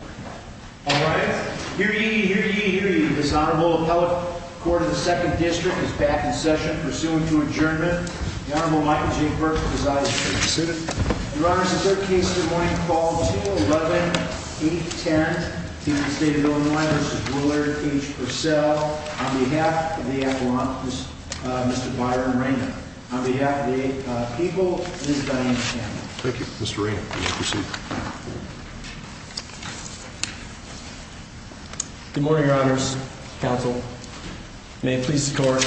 All right, here you hear you hear you. This honorable appellate court of the Second District is back in session, pursuing to adjournment. The Honorable Michael J. Burke is I seated. Your Honor, the third case this morning called to 11 8 10 state of Illinois. This is Willard H Purcell on behalf of the apologies, Mr Byron Rainer on behalf of the people. Thank you, Mr Rain. Mhm. Good morning, Your Honor's counsel. May it please the court.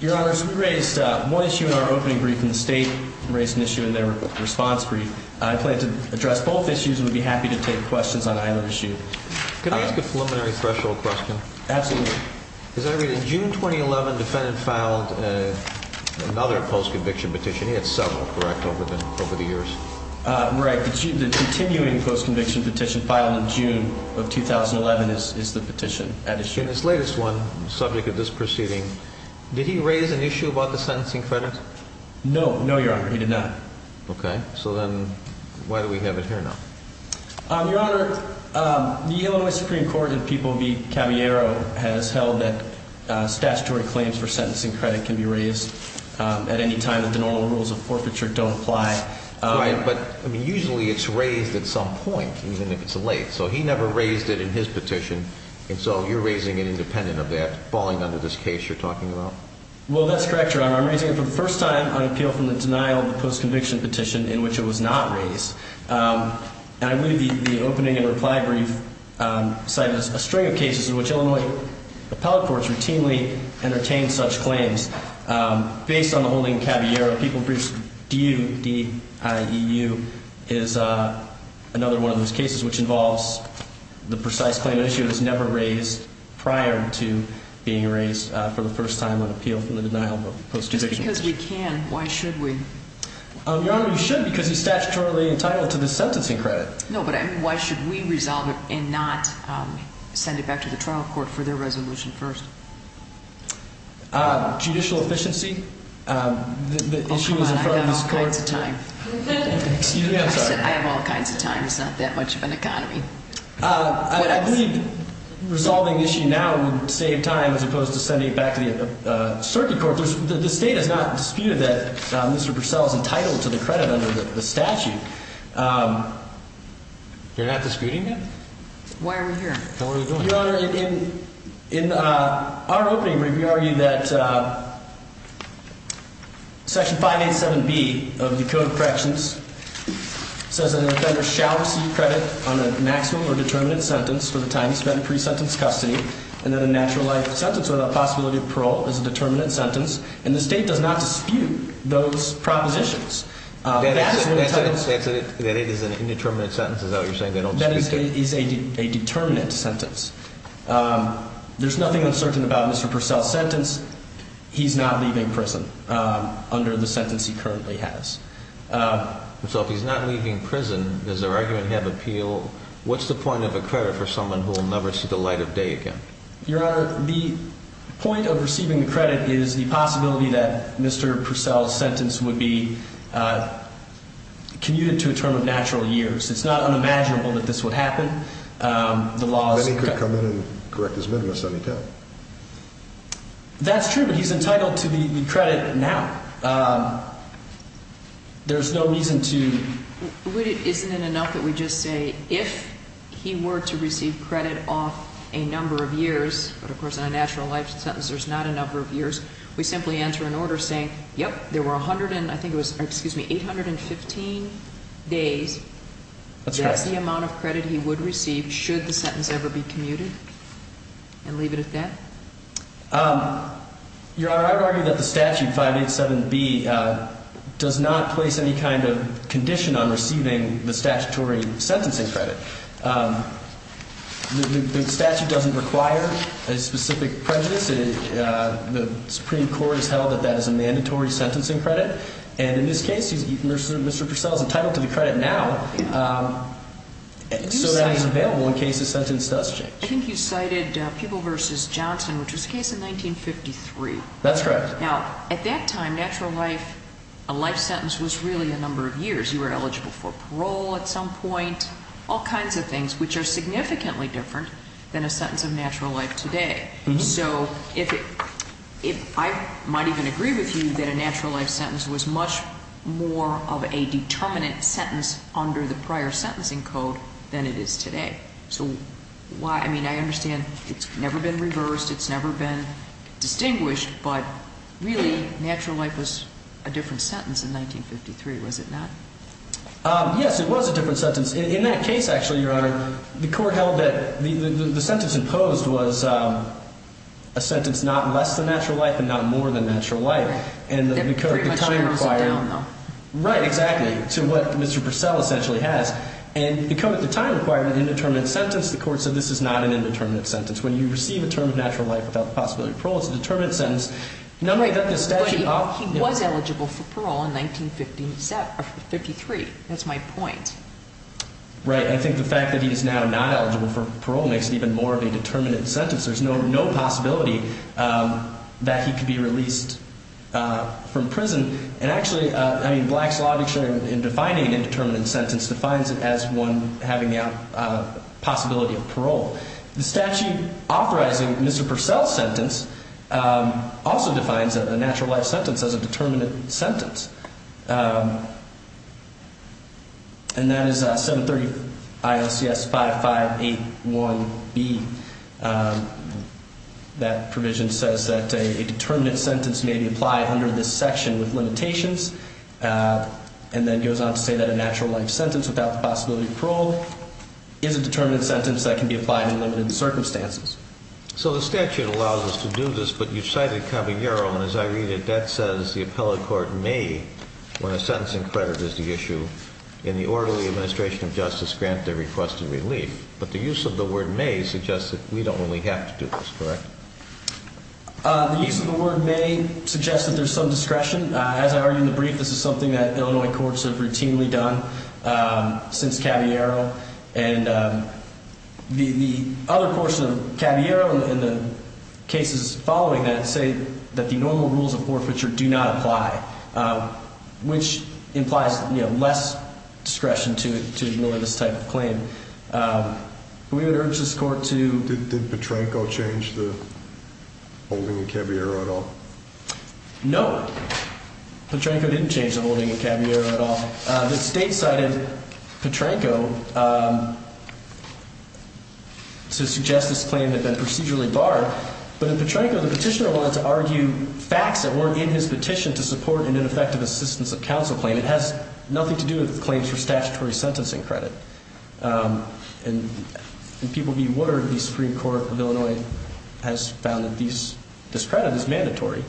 Your Honor's raised more issue in our opening brief in the state raised an issue in their response brief. I plan to address both issues and would be happy to take questions on either issue. Can I ask a preliminary threshold question? Absolutely. Is that really June 2011 defendant filed another post conviction petition? It's several correct over the over the years. Right. Continuing post conviction petition filed in June of 2011 is the petition at issue in this latest one. Subject of this proceeding. Did he raise an issue about the sentencing credit? No, no, Your Honor. He did not. Okay, so then why do we have it here now? Um, Your Honor, um, the Illinois Supreme Court and people be cameo has held that statutory claims for sentencing credit can be raised at any time that the normal rules of forfeiture don't apply. But usually it's raised at some point, even if it's late. So he never raised it in his petition. And so you're raising an independent of that falling under this case you're talking about. Well, that's correct, Your Honor. I'm raising it for the first time on appeal from the denial of the post conviction petition in which it was not raised. Um, and I believe the opening and reply brief, um, cited a string of cases in which Illinois appellate courts routinely entertained such claims. Um, based on the holding Caballero people briefs. Do you D I E U is another one of those cases which involves the precise claim issue has never raised prior to being raised for the first time on appeal from the denial of post because we can. Why should we? Your Honor, you should because he's statutorily entitled to the sentencing credit. No, but why should we resolve it and not send it back to the trial court for their resolution? First, judicial efficiency. Um, the issue is in front of this court time. I have all kinds of time. It's not that much of an economy. Uh, resolving issue now would save time as opposed to sending it back to the circuit court. The state is not disputed that Mr Purcell is entitled to the credit under the statute. Um, you're not disputing it. Why are we here? In our opening review, argue that, uh, section 587 B of the Code of Corrections says that an offender shall receive credit on a maximum or determinate sentence for the time spent pre sentence custody and then a natural life sentence without possibility of parole is a determinate sentence. And the state does not dispute those propositions. Uh, that's that it is an indeterminate sentence. Is that what you're saying? They don't. That is a determinant sentence. Um, there's he's not leaving prison under the sentence he currently has. Uh, so if he's not leaving prison, is their argument have appeal? What's the point of a credit for someone who will never see the light of day again? Your honor, the point of receiving the credit is the possibility that Mr Purcell sentence would be, uh, commuted to a term of natural years. It's not unimaginable that this would happen. Um, the laws could come in and correct this. Let me go. That's true. But he's entitled to the credit now. Um, there's no reason to. Isn't it enough that we just say if he were to receive credit off a number of years, but, of course, in a natural life sentence, there's not a number of years. We simply enter an order saying, Yep, there were 100 and I think it was excuse me, 815 days. That's the amount of credit he would receive. Should the sentence ever be commuted? And leave it at that. Um, your honor, I would argue that the statute 587 B, uh, does not place any kind of condition on receiving the statutory sentencing credit. Um, the statute doesn't require a specific prejudice. Uh, the Supreme Court has held that that is a mandatory sentencing credit. And in this case, he's Mr Purcell's entitled to the credit now. Um, so that is available in case the sentence does change. I think you cited people versus Johnson, which was case in 1953. That's correct. Now, at that time, natural life, a life sentence was really a number of years. You were eligible for parole at some point, all kinds of things which are significantly different than a sentence of natural life today. So if if I might even agree with you that a natural life sentence was much more of a determinant sentence under the prior sentencing code than it is today. So why? I mean, I understand it's never been reversed. It's never been distinguished. But really, natural life was a different sentence in 1953. Was it not? Um, yes, it was a different sentence in that case. Actually, your honor, the court held that the sentence imposed was, um, a sentence, not less than natural life and not more than natural life. And we could time required. No, right. Exactly. To what Mr Purcell essentially has and become at the time required an indeterminate sentence. The court said this is not an indeterminate sentence. When you receive a term of natural life without the possibility of parole, it's a determinate sentence. Nobody got this statute. He was eligible for parole in 1953. That's my point, right? I think the fact that he is now not eligible for parole makes it even more of a determinant sentence. There's no no possibility that he could be released from prison. And actually, I mean, defining an indeterminate sentence defines it as one having a possibility of parole. The statute authorizing Mr Purcell sentence, um, also defines a natural life sentence as a determinant sentence. Um, and that is 7 30 I. O. C. S. 5581 B. Um, that provision says that a determinate sentence may be applied under this section with limitations. Uh, and then goes on to say that a natural life sentence without the possibility of parole is a determinant sentence that can be applied in limited circumstances. So the statute allows us to do this, but you cited Caballero. And as I read it, that says the appellate court may, when a sentencing credit is the issue in the orderly administration of justice, grant their request of relief. But the use of the word may suggest that we don't only have to do this, correct? The use of the word may suggest that there's some discretion. As I argue in the brief, this is something that Illinois courts have routinely done since Caballero and the other portion of Caballero in the cases following that say that the normal rules of forfeiture do not apply, which implies less discretion to to really this type of claim. Um, we would urge this court to did Petranco change the holding of Caballero at all? No, Petranco didn't change the holding of Caballero at all. The state cited Petranco, um, to suggest this claim that been procedurally barred. But in Petranco, the petitioner wanted to argue facts that weren't in his petition to support an ineffective assistance of counsel claim. It has nothing to do with claims for statutory sentencing credit. Um, and people be watered. The Supreme Court of Illinois has found that these discredit is mandatory.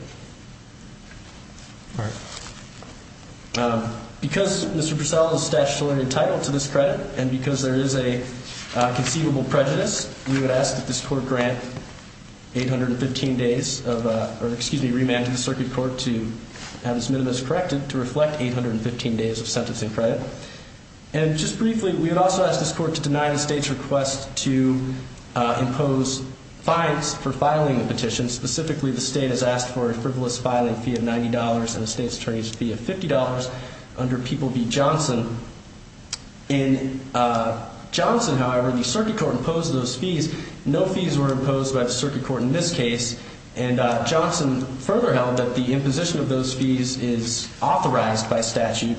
All right. Um, because Mr Priscilla is statutorily entitled to this credit and because there is a conceivable prejudice, we would ask that this court grant 815 days of excuse me, remanded the circuit court to have this minimus corrected to reflect 815 days of sentencing credit. And just briefly, we would also ask this court to deny the state's request to impose fines for filing a petition. Specifically, the state has asked for a frivolous filing fee of $90 in the state's attorneys fee of $50 under people be Johnson in, uh, Johnson. However, the circuit court imposed those fees. No fees were imposed by the circuit court in this case, and Johnson further held that the imposition of those fees is authorized by statute.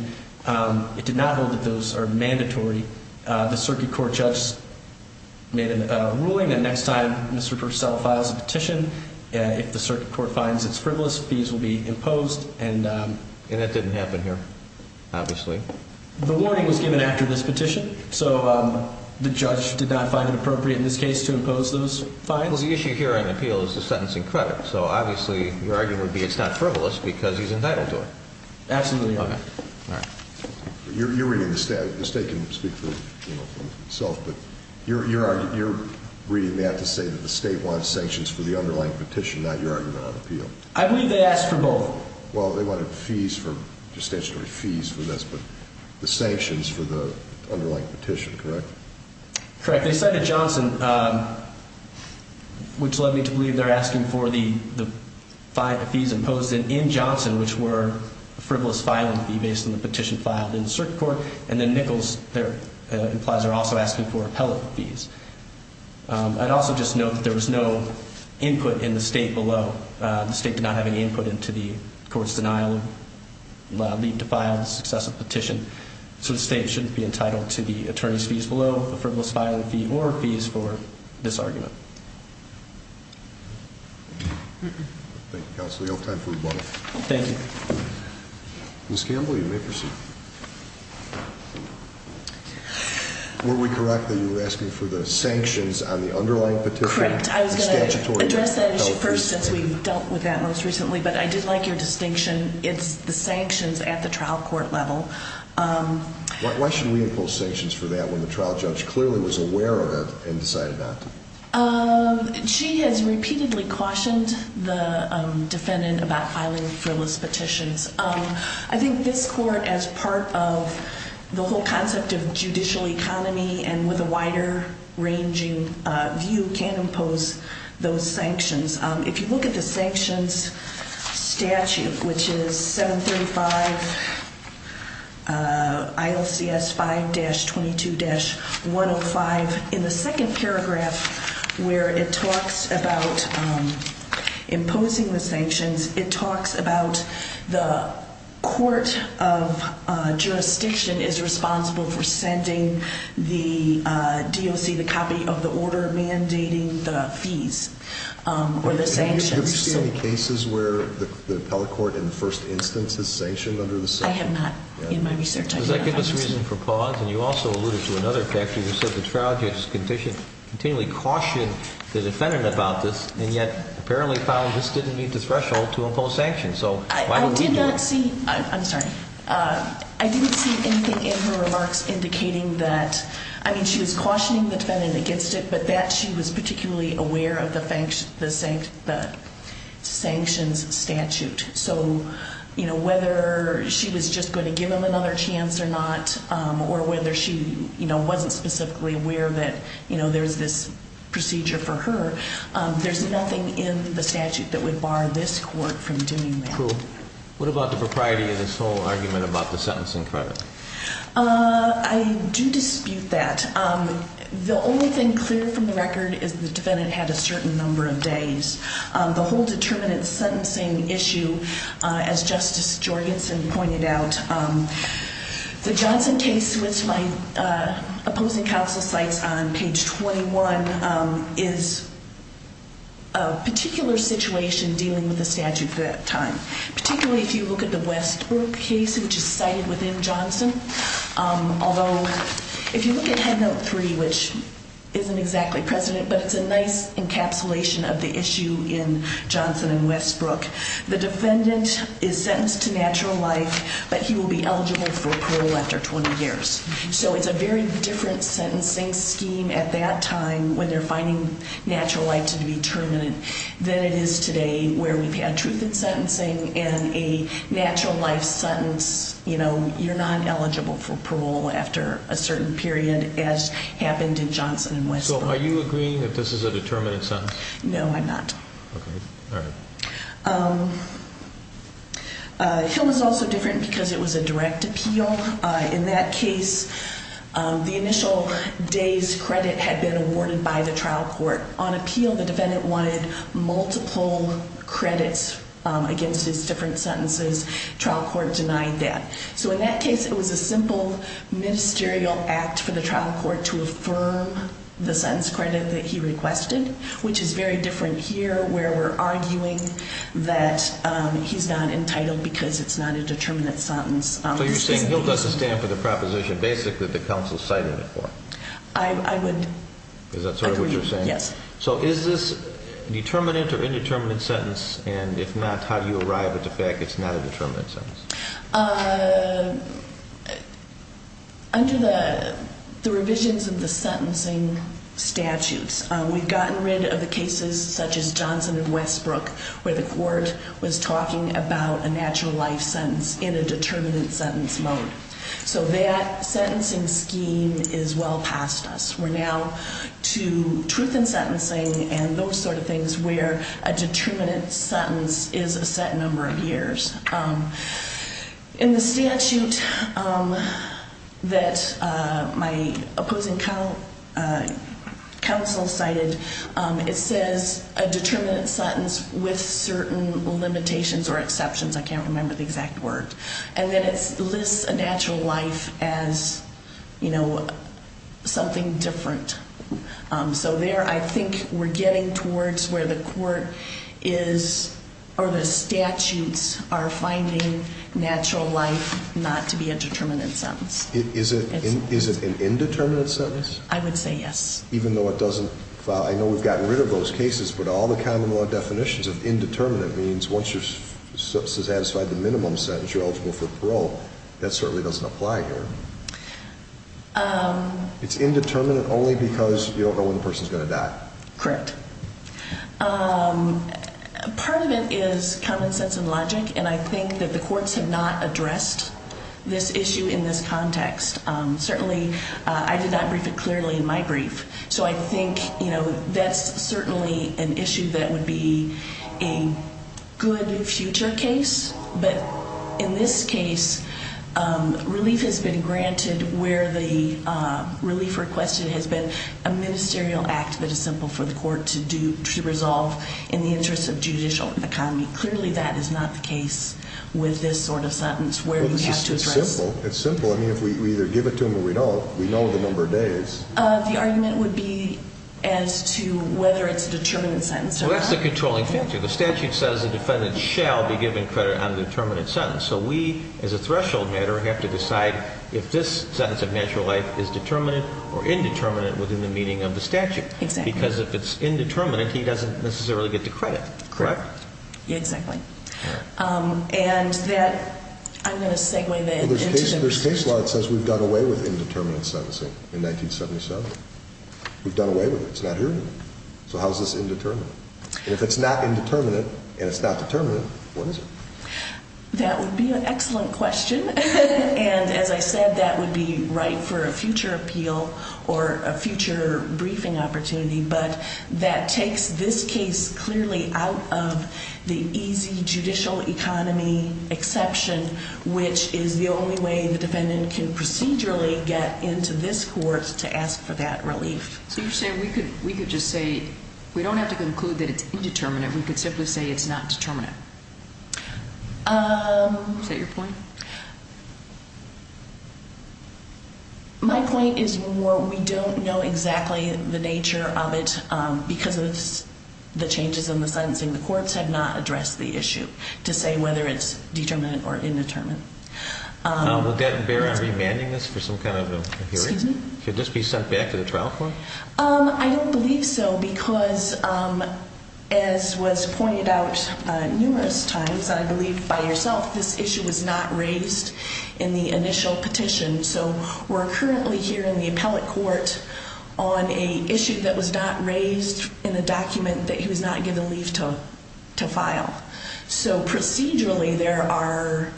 Um, it did not hold that those are mandatory. The circuit court judge made a ruling that next time Mr Purcell files a petition, if the circuit court finds its frivolous fees will be imposed. And, um, and that didn't happen here. Obviously, the warning was given after this petition. So, um, the judge did not find it appropriate in this case to impose those final issue here on appeal is the sentencing credit. So he's entitled to it. Absolutely. All right. You're reading the state. The state can speak for itself, but you're you're you're reading. They have to say that the state wants sanctions for the underlying petition. Not your argument on appeal. I believe they asked for both. Well, they wanted fees for just stationary fees for this, but the sanctions for the underlying petition. Correct. Correct. They said that Johnson, um, which led me to which were frivolous filing fee based on the petition filed in the circuit court. And then Nichols implies are also asking for appellate fees. Um, I'd also just note that there was no input in the state below. The state did not have any input into the court's denial of leave to file successive petition. So the state shouldn't be entitled to the attorney's fees below the frivolous filing fee or fees for this argument. Mhm. Thank you, Counselor. You have time for one. Thank you, Miss Campbell. You may proceed. Were we correct that you were asking for the sanctions on the underlying petition? Correct. I was gonna address that issue first since we dealt with that most recently, but I did like your distinction. It's the sanctions at the trial court level. Um, why should we impose sanctions for that when the she has repeatedly cautioned the defendant about filing frivolous petitions? Um, I think this court as part of the whole concept of judicial economy and with a wider ranging view can impose those sanctions. If you look at the sanctions statute, which is 7 35 uh, I'll see s five dash 22 dash 105 in the second paragraph where it talks about, um, imposing the sanctions. It talks about the court of jurisdiction is responsible for sending the D. O. C. The copy of the order mandating the fees or the sanctions cases where the appellate court in the first instance is sanctioned under the I have not in my research for pause. And you also alluded to another factor. You said the trial judge's condition continually caution the defendant about this and yet apparently found this didn't meet the threshold to impose sanctions. So I did not see. I'm sorry. Uh, I didn't see anything in her remarks indicating that I mean, she was cautioning the defendant against it, but that she was particularly aware of the thanks the the sanctions statute. So, you know, whether she was just going to give him another chance or not, or whether she wasn't specifically aware that, you know, there's this procedure for her. There's nothing in the statute that would bar this court from doing that. What about the propriety of this whole argument about the sentencing credit? Uh, I do dispute that. Um, the only clear from the record is the defendant had a certain number of days. The whole determinant sentencing issue as Justice Jorgensen pointed out, um, the Johnson case with my opposing counsel sites on page 21 is a particular situation dealing with the statute for that time, particularly if you look at the Westbrook case, which is cited within Johnson. Um, although if you look at headnote three, which isn't exactly president, but it's a nice encapsulation of the issue in Johnson and Westbrook, the defendant is sentenced to natural life, but he will be eligible for parole after 20 years. So it's a very different sentencing scheme at that time when they're finding natural life to be terminant than it is today, where we've had truth in sentencing and a natural life sentence. You know, you're not period as happened in Johnson and Westbrook. Are you agreeing that this is a determinant sentence? No, I'm not. Okay. All right. Um, uh, he was also different because it was a direct appeal. In that case, the initial days credit had been awarded by the trial court on appeal. The defendant wanted multiple credits against his different sentences. Trial court denied that. So in that case, it was a simple ministerial act for the trial court to affirm the sense credit that he requested, which is very different here, where we're arguing that he's not entitled because it's not a determinant sentence. So you're saying he'll doesn't stand for the proposition. Basically, the council cited it for I would. Is that sort of what you're saying? Yes. So is this determinant or indeterminate sentence? And if not, how do you arrive at the fact? It's not a determinant. Uh, under the revisions of the sentencing statutes, we've gotten rid of the cases such as Johnson and Westbrook, where the court was talking about a natural life sentence in a determinant sentence mode. So that sentencing scheme is well past us. We're now to truth in sentencing and those sort of things where a determinant sentence is a set number of years. Um, in the statute, um, that, uh, my opposing count, uh, counsel cited. Um, it says a determinant sentence with certain limitations or exceptions. I can't remember the exact word. And then it's lists a natural life as, you know, something different. Um, so there I think we're getting towards where the court is or the statutes are finding natural life not to be a determinant sentence. Is it? Is it an indeterminate sentence? I would say yes, even though it doesn't. I know we've gotten rid of those cases, but all the common law definitions of indeterminate means once you're satisfied the minimum sentence, you're eligible for parole. That certainly doesn't apply here. Um, it's indeterminate only because you don't know when the person is gonna die. Correct. Um, part of it is common sense and logic. And I think that the courts have not addressed this issue in this context. Certainly I did not brief it clearly in my brief. So I think, you know, that's certainly an issue that would be a good future case. But in this case, um, relief has been granted where the relief requested has been a ministerial act that is simple for the court to do to resolve in the interest of judicial economy. Clearly, that is not the case with this sort of sentence where we have to address simple. It's simple. I mean, if we either give it to him or we don't, we know the number of the argument would be as to whether it's a determinant sentence. So that's the controlling factor. The statute says the defendant shall be given credit on the determinant sentence. So we, as a threshold matter, have to decide if this sentence of natural life is determinate or indeterminate within the meaning of the statute. Because if it's indeterminate, he doesn't necessarily get to credit. Correct. Exactly. Um, and that I'm going to segue that there's we've done away with indeterminate sentencing in 1977. We've done away with it's not here. So how is this indeterminate? And if it's not indeterminate and it's not determinate, what is it? That would be an excellent question. And as I said, that would be right for a future appeal or a future briefing opportunity. But that takes this case clearly out of the easy judicial economy exception, which is the only way the defendant can procedurally get into this court to ask for that relief. So you're saying we could we could just say we don't have to conclude that it's indeterminate. We could simply say it's not determinate. Um, is that your point? My point is more. We don't know exactly the nature of it because of the changes in the sentencing, the courts have not addressed the issue to say whether it's determinant or indeterminate. Um, will that bear on remanding this for some kind of a hearing? Should this be sent back to the trial for? Um, I don't believe so because, um, as was pointed out numerous times, I believe by yourself, this issue was not raised in the initial petition. So we're currently here in the appellate court on a issue that was not raised in the leave toe to file. So procedurally, there are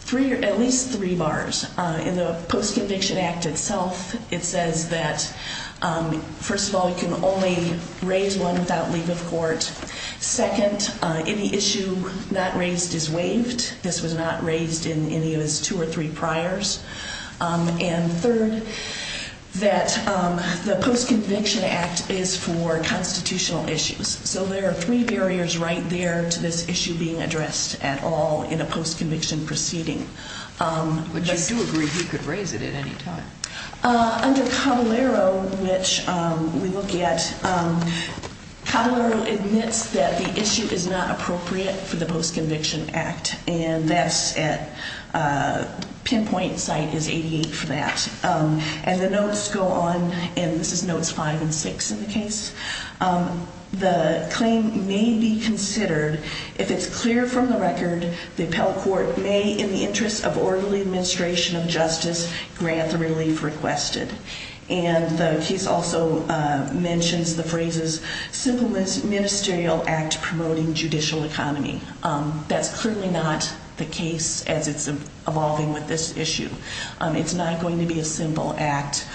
three or at least three bars in the Post Conviction Act itself. It says that, um, first of all, you can only raise one without leave of court. Second, any issue not raised is waived. This was not raised in any of his two or three priors. Um, and third, that, um, the Post Conviction Act is for constitutional issues. So there are three barriers right there to this issue being addressed at all in a post conviction proceeding. Um, but you do agree he could raise it at any time under Caballero, which we look at, um, Caballero admits that the issue is not appropriate for the Post Conviction Act. And that's at, uh, pinpoint site is 88 for that. Um, and the notes go on, and this is notes five and six in the case. Um, the claim may be considered if it's clear from the record, the appellate court may in the interest of orderly administration of justice grant the relief requested. And the case also mentions the phrases simple ministerial act promoting judicial economy. Um, that's clearly not the evolving with this issue. It's not going to be a simple act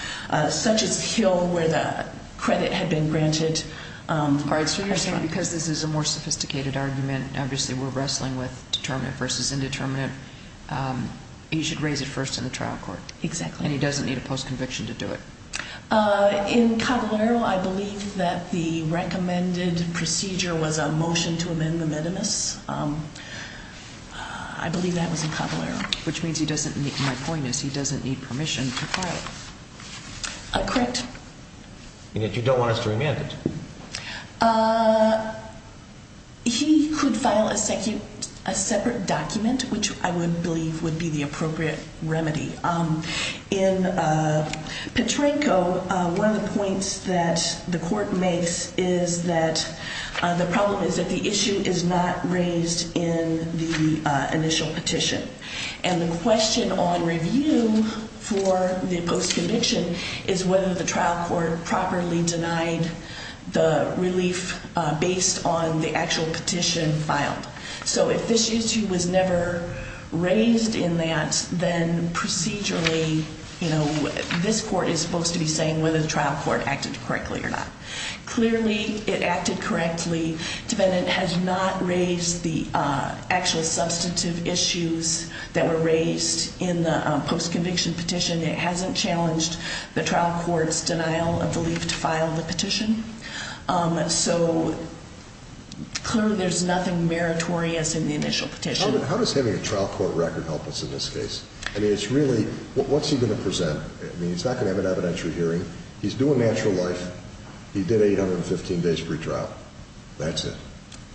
such as Hill, where the credit had been granted. Um, all right, so you're saying because this is a more sophisticated argument, obviously, we're wrestling with determinate versus indeterminate. Um, you should raise it first in the trial court. Exactly. And he doesn't need a post conviction to do it. Uh, in Caballero, I believe that the recommended procedure was a motion to which means he doesn't. My point is, he doesn't need permission. Correct. You don't want us to remand it. Uh, he could file a second, a separate document, which I would believe would be the appropriate remedy. Um, in, uh, Petranco, one of the points that the court makes is that the problem is that the issue is not raised in the initial petition. And the question on review for the post conviction is whether the trial court properly denied the relief based on the actual petition filed. So if this issue was never raised in that, then procedurally, you know, this court is supposed to be saying whether the trial court acted correctly or not. Clearly, it acted correctly. Defendant has not raised the actual substantive issues that were raised in the post conviction petition. It hasn't challenged the trial court's denial of the leave to file the petition. Um, so clearly there's nothing meritorious in the initial petition. How does having a trial court record help us in this case? I mean, it's really what's he going to present? I mean, it's not gonna have an evidentiary hearing. He's doing natural life. He did 815 days pre trial. That's it.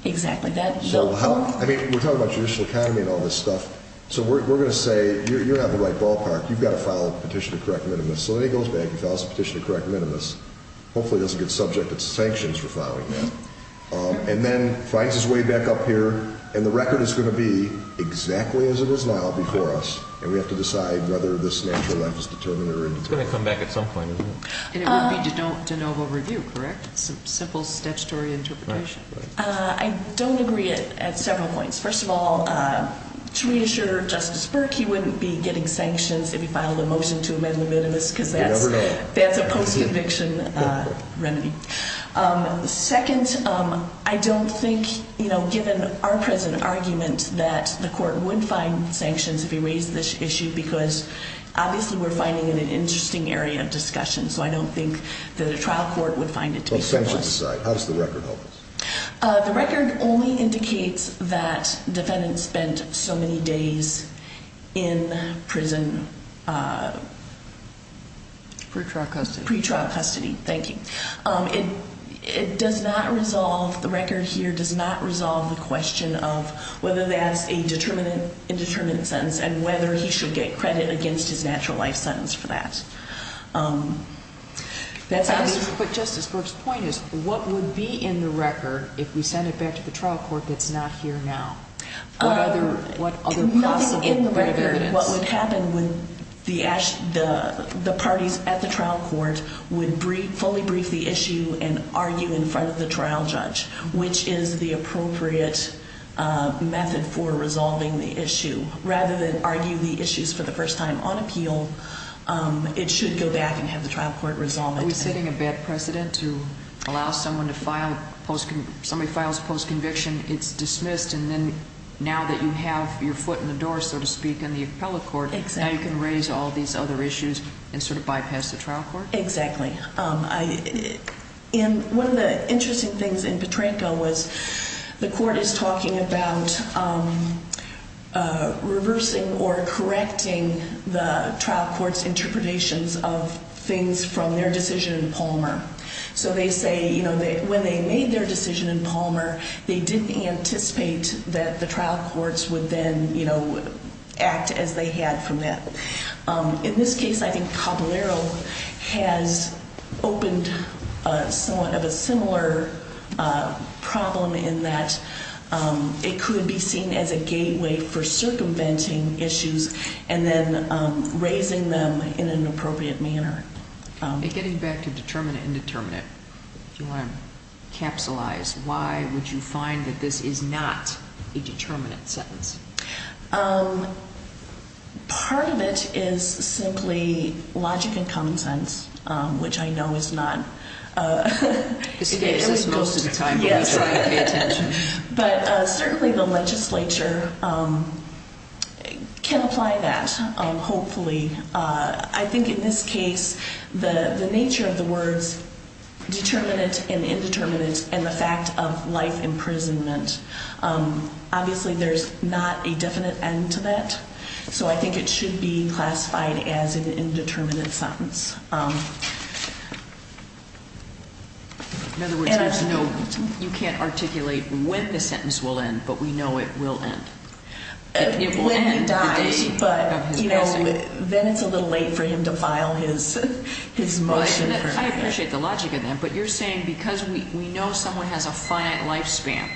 Exactly. That's how I mean, we're talking about traditional economy and all this stuff. So we're gonna say you're not the right ballpark. You've got to follow the petition of correct minimus. So he goes back and tells the petition of correct minimus. Hopefully that's a good subject. It's sanctions for following that. Um, and then finds his way back up here, and the record is gonna be exactly as it is now before us. And we have to decide whether this natural life is determined or it's gonna come back at some point. And it would be to don't de novo review. Correct. Simple statutory interpretation. I don't agree it at several points. First of all, uh, to reassure Justice Burke, he wouldn't be getting sanctions if he filed a motion to amend the minimus, because that's that's a post conviction remedy. Um, second, um, I don't think, you know, given our present argument that the court would find sanctions if he raised this issue, because obviously we're finding in an interesting area of discussion. So I don't think that a trial court would find it to be essential to decide. How does the record help us? The record only indicates that defendants spent so many days in prison, uh, pretrial custody, pretrial custody. Thank you. Um, it does not resolve. The record here does not resolve the question of whether that's a determinant indeterminate sentence and whether he should get credit against his natural life sentence for that. Um, that's what Justice Burke's point is. What would be in the record if we send it back to the trial court? That's not here now. What other? What other possible? What would happen with the ash? The parties at the trial court would fully brief the issue and argue in front of the trial judge, which is the appropriate method for resolving the issue rather than argue the issues for the first time on appeal. Um, it should go back and have the trial court resolve. It's hitting a bad precedent to allow someone to file post. Somebody files post conviction. It's dismissed. And then now that you have your foot in the door, so to speak, in the appellate court, you can raise all these other issues and sort of bypass the trial court. Exactly. Um, in one of the interesting things in Petranco was the uh, reversing or correcting the trial court's interpretations of things from their decision in Palmer. So they say, you know, when they made their decision in Palmer, they didn't anticipate that the trial courts would then, you know, act as they had from that. Um, in this case, I think Caballero has opened somewhat of a similar problem in that, um, it could be seen as a gateway for circumventing issues and then raising them in an appropriate manner. Getting back to determine indeterminate, you want to capsulize. Why would you find that this is not a determinant sentence? Um, part of it is simply logic and common sense, which I know is not, uh, most of the time. But certainly the legislature, um, can apply that. Hopefully. Uh, I think in this case, the nature of the words determinant and indeterminate and the fact of life imprisonment. Um, obviously there's not a definite end to that. So I think it should be classified as an indeterminate sentence. Um, in other words, there's no, you can't articulate when the sentence will end, but we know it will end when he dies. But, you know, then it's a little late for him to file his his motion. I appreciate the logic of them. But you're saying because we know someone has a finite lifespan,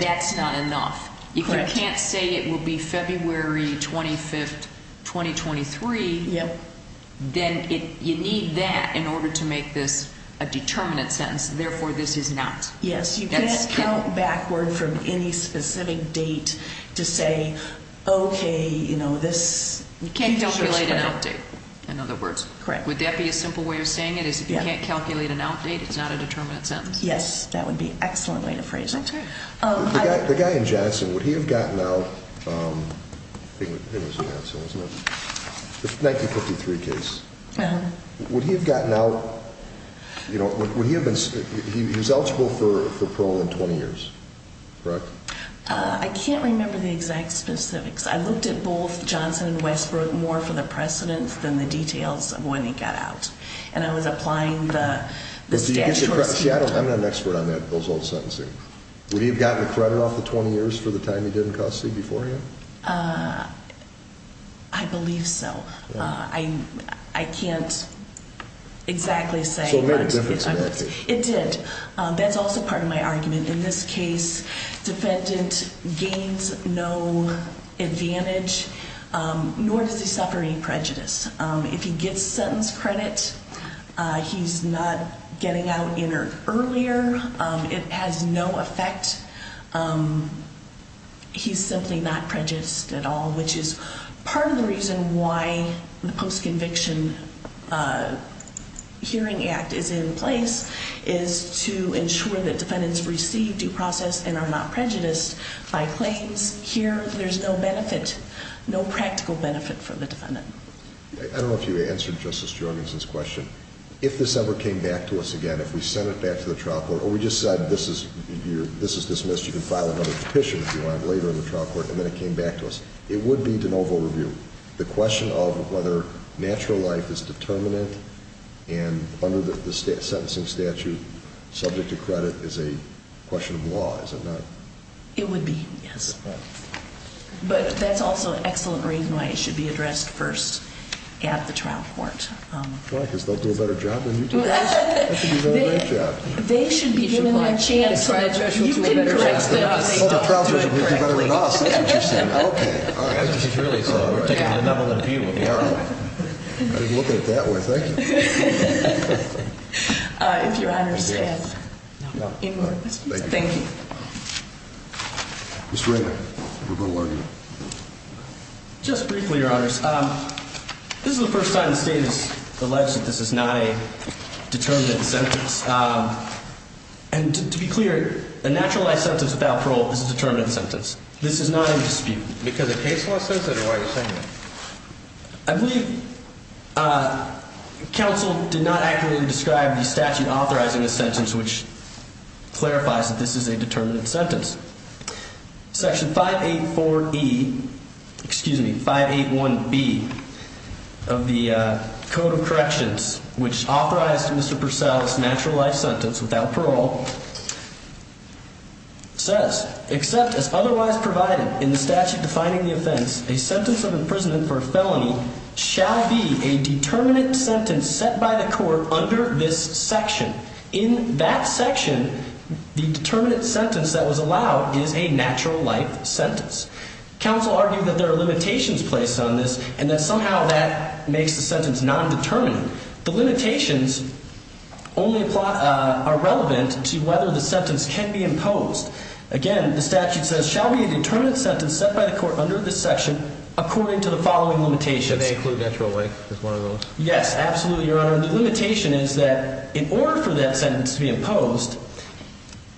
that's not enough. You can't say it will be February 25th 2023. Then you need that in order to make this a determinant sentence. Therefore, this is not. Yes, you can't count backward from any specific date to say, okay, you know, this, you can't calculate an update. In other words, correct. Would that be a simple way of saying it is if you can't calculate an outdate, it's not a would he have gotten out? Um, it was canceled, wasn't it? Thank you. 53 case. Would he have gotten out? You know, would he have been? He was eligible for parole in 20 years. Correct. I can't remember the exact specifics. I looked at both Johnson and Westbrook more for the precedence than the details of when he got out. And I was applying the statutes. I'm not an expert on that. Those old sentencing. Would you have gotten the credit off the 20 years for the time you didn't custody before him? Uh, I believe so. I can't exactly say it did. That's also part of my argument. In this case, defendant gains no advantage. Um, nor does he suffer any It has no effect. Um, he's simply not prejudiced at all, which is part of the reason why the post conviction, uh, hearing act is in place is to ensure that defendants receive due process and are not prejudiced by claims here. There's no benefit, no practical benefit for the defendant. I don't know if you answered Justice Jorgensen's question. If this ever came back to us or we just said this is this is dismissed. You can file another petition if you want later in the trial court. And then it came back to us. It would be de novo review. The question of whether natural life is determinant and under the sentencing statute subject to credit is a question of law. Is it not? It would be. Yes. But that's also an excellent reason why it should be addressed first at the trial court because they'll do a better job than chance, right? Probably better than us. All right, really? So we're taking a level of view. We're looking at that way. Thank you. If your honor's thank you. Mr Raymond. Just briefly, your honors. Um, this is the first time the state is alleged that this is not a determined sentence. Um, and to be clear, a naturalized sentence without parole is a determined sentence. This is not in dispute because the case was censored. I believe uh, counsel did not accurately describe the statute authorizing a sentence which clarifies that this is a determinate sentence. Section 584 E. Excuse me, 581 B of the Code of Corrections, which authorized Mr Purcell's naturalized sentence without parole says, except as otherwise provided in the statute defining the offense, a sentence of imprisonment for felony shall be a determinate sentence set by the court under this section. In that section, the determinate sentence that was allowed is a natural life sentence. Counsel argued that there are limitations placed on this and that somehow that makes the sentence nondeterminate. The limitations only plot are relevant to whether the sentence can be imposed again. The statute says, shall we determine sentence set by the court under this section according to the following limitations include natural way? Yes, absolutely. Your limitation is that in order for that sentence to be imposed,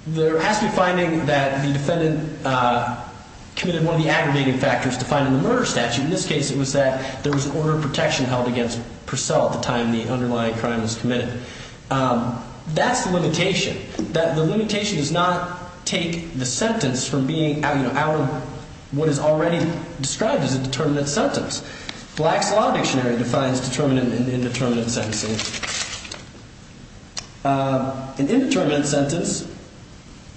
there has to be finding that the defendant, uh, committed one of the aggravating factors to find in the murder statute. In this case, it was that there was an order of protection held against Purcell at the time the underlying crime was committed. Um, that's the limitation that the limitation does not take the sentence from being out of what is already described as a determinate sentence. Black's Law Dictionary defines determinate and indeterminate sentencing. Uh, indeterminate sentence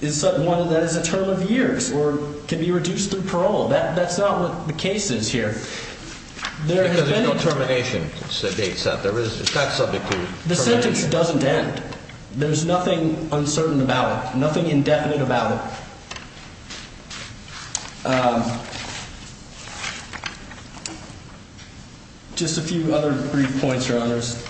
is one that is a term of years or can be reduced through parole. That's not what the case is here. There has been no termination. So they said there is not subject to the sentence doesn't end. There's nothing uncertain about nothing indefinite about it. Um, just a few other brief points. Your honors.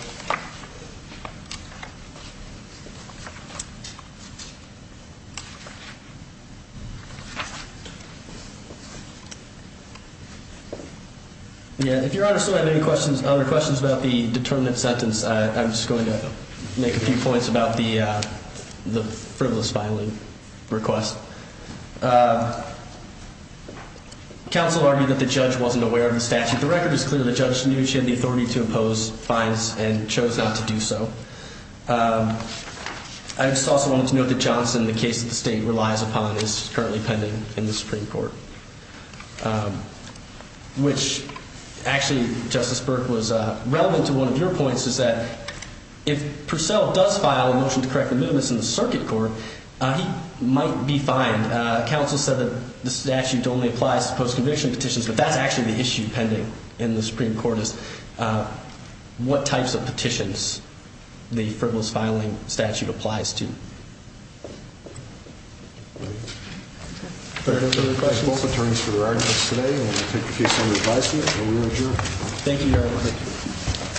Yeah, if your honor still have any questions, other questions about the determinate sentence, I'm just going to make a few points about the frivolous filing request. Uh, counsel argued that the judge wasn't aware of the statute. The record is clear. The judge knew she had the authority to impose fines and chose not to do so. Um, I just also wanted to note that Johnson, the case of the state relies upon is currently pending in the Supreme Court. Um, which actually, Justice Burke was relevant to one of your points is that if Purcell does file a motion to correct the movements in the circuit court, he might be fined. Council said that the statute only applies to post conviction petitions. But that's actually the issue pending in the Supreme Court is, uh, what types of petitions the frivolous filing statute applies to. Thank you. Thank you very much. Both attorneys for the right today. Take a few. Some advice. Thank you.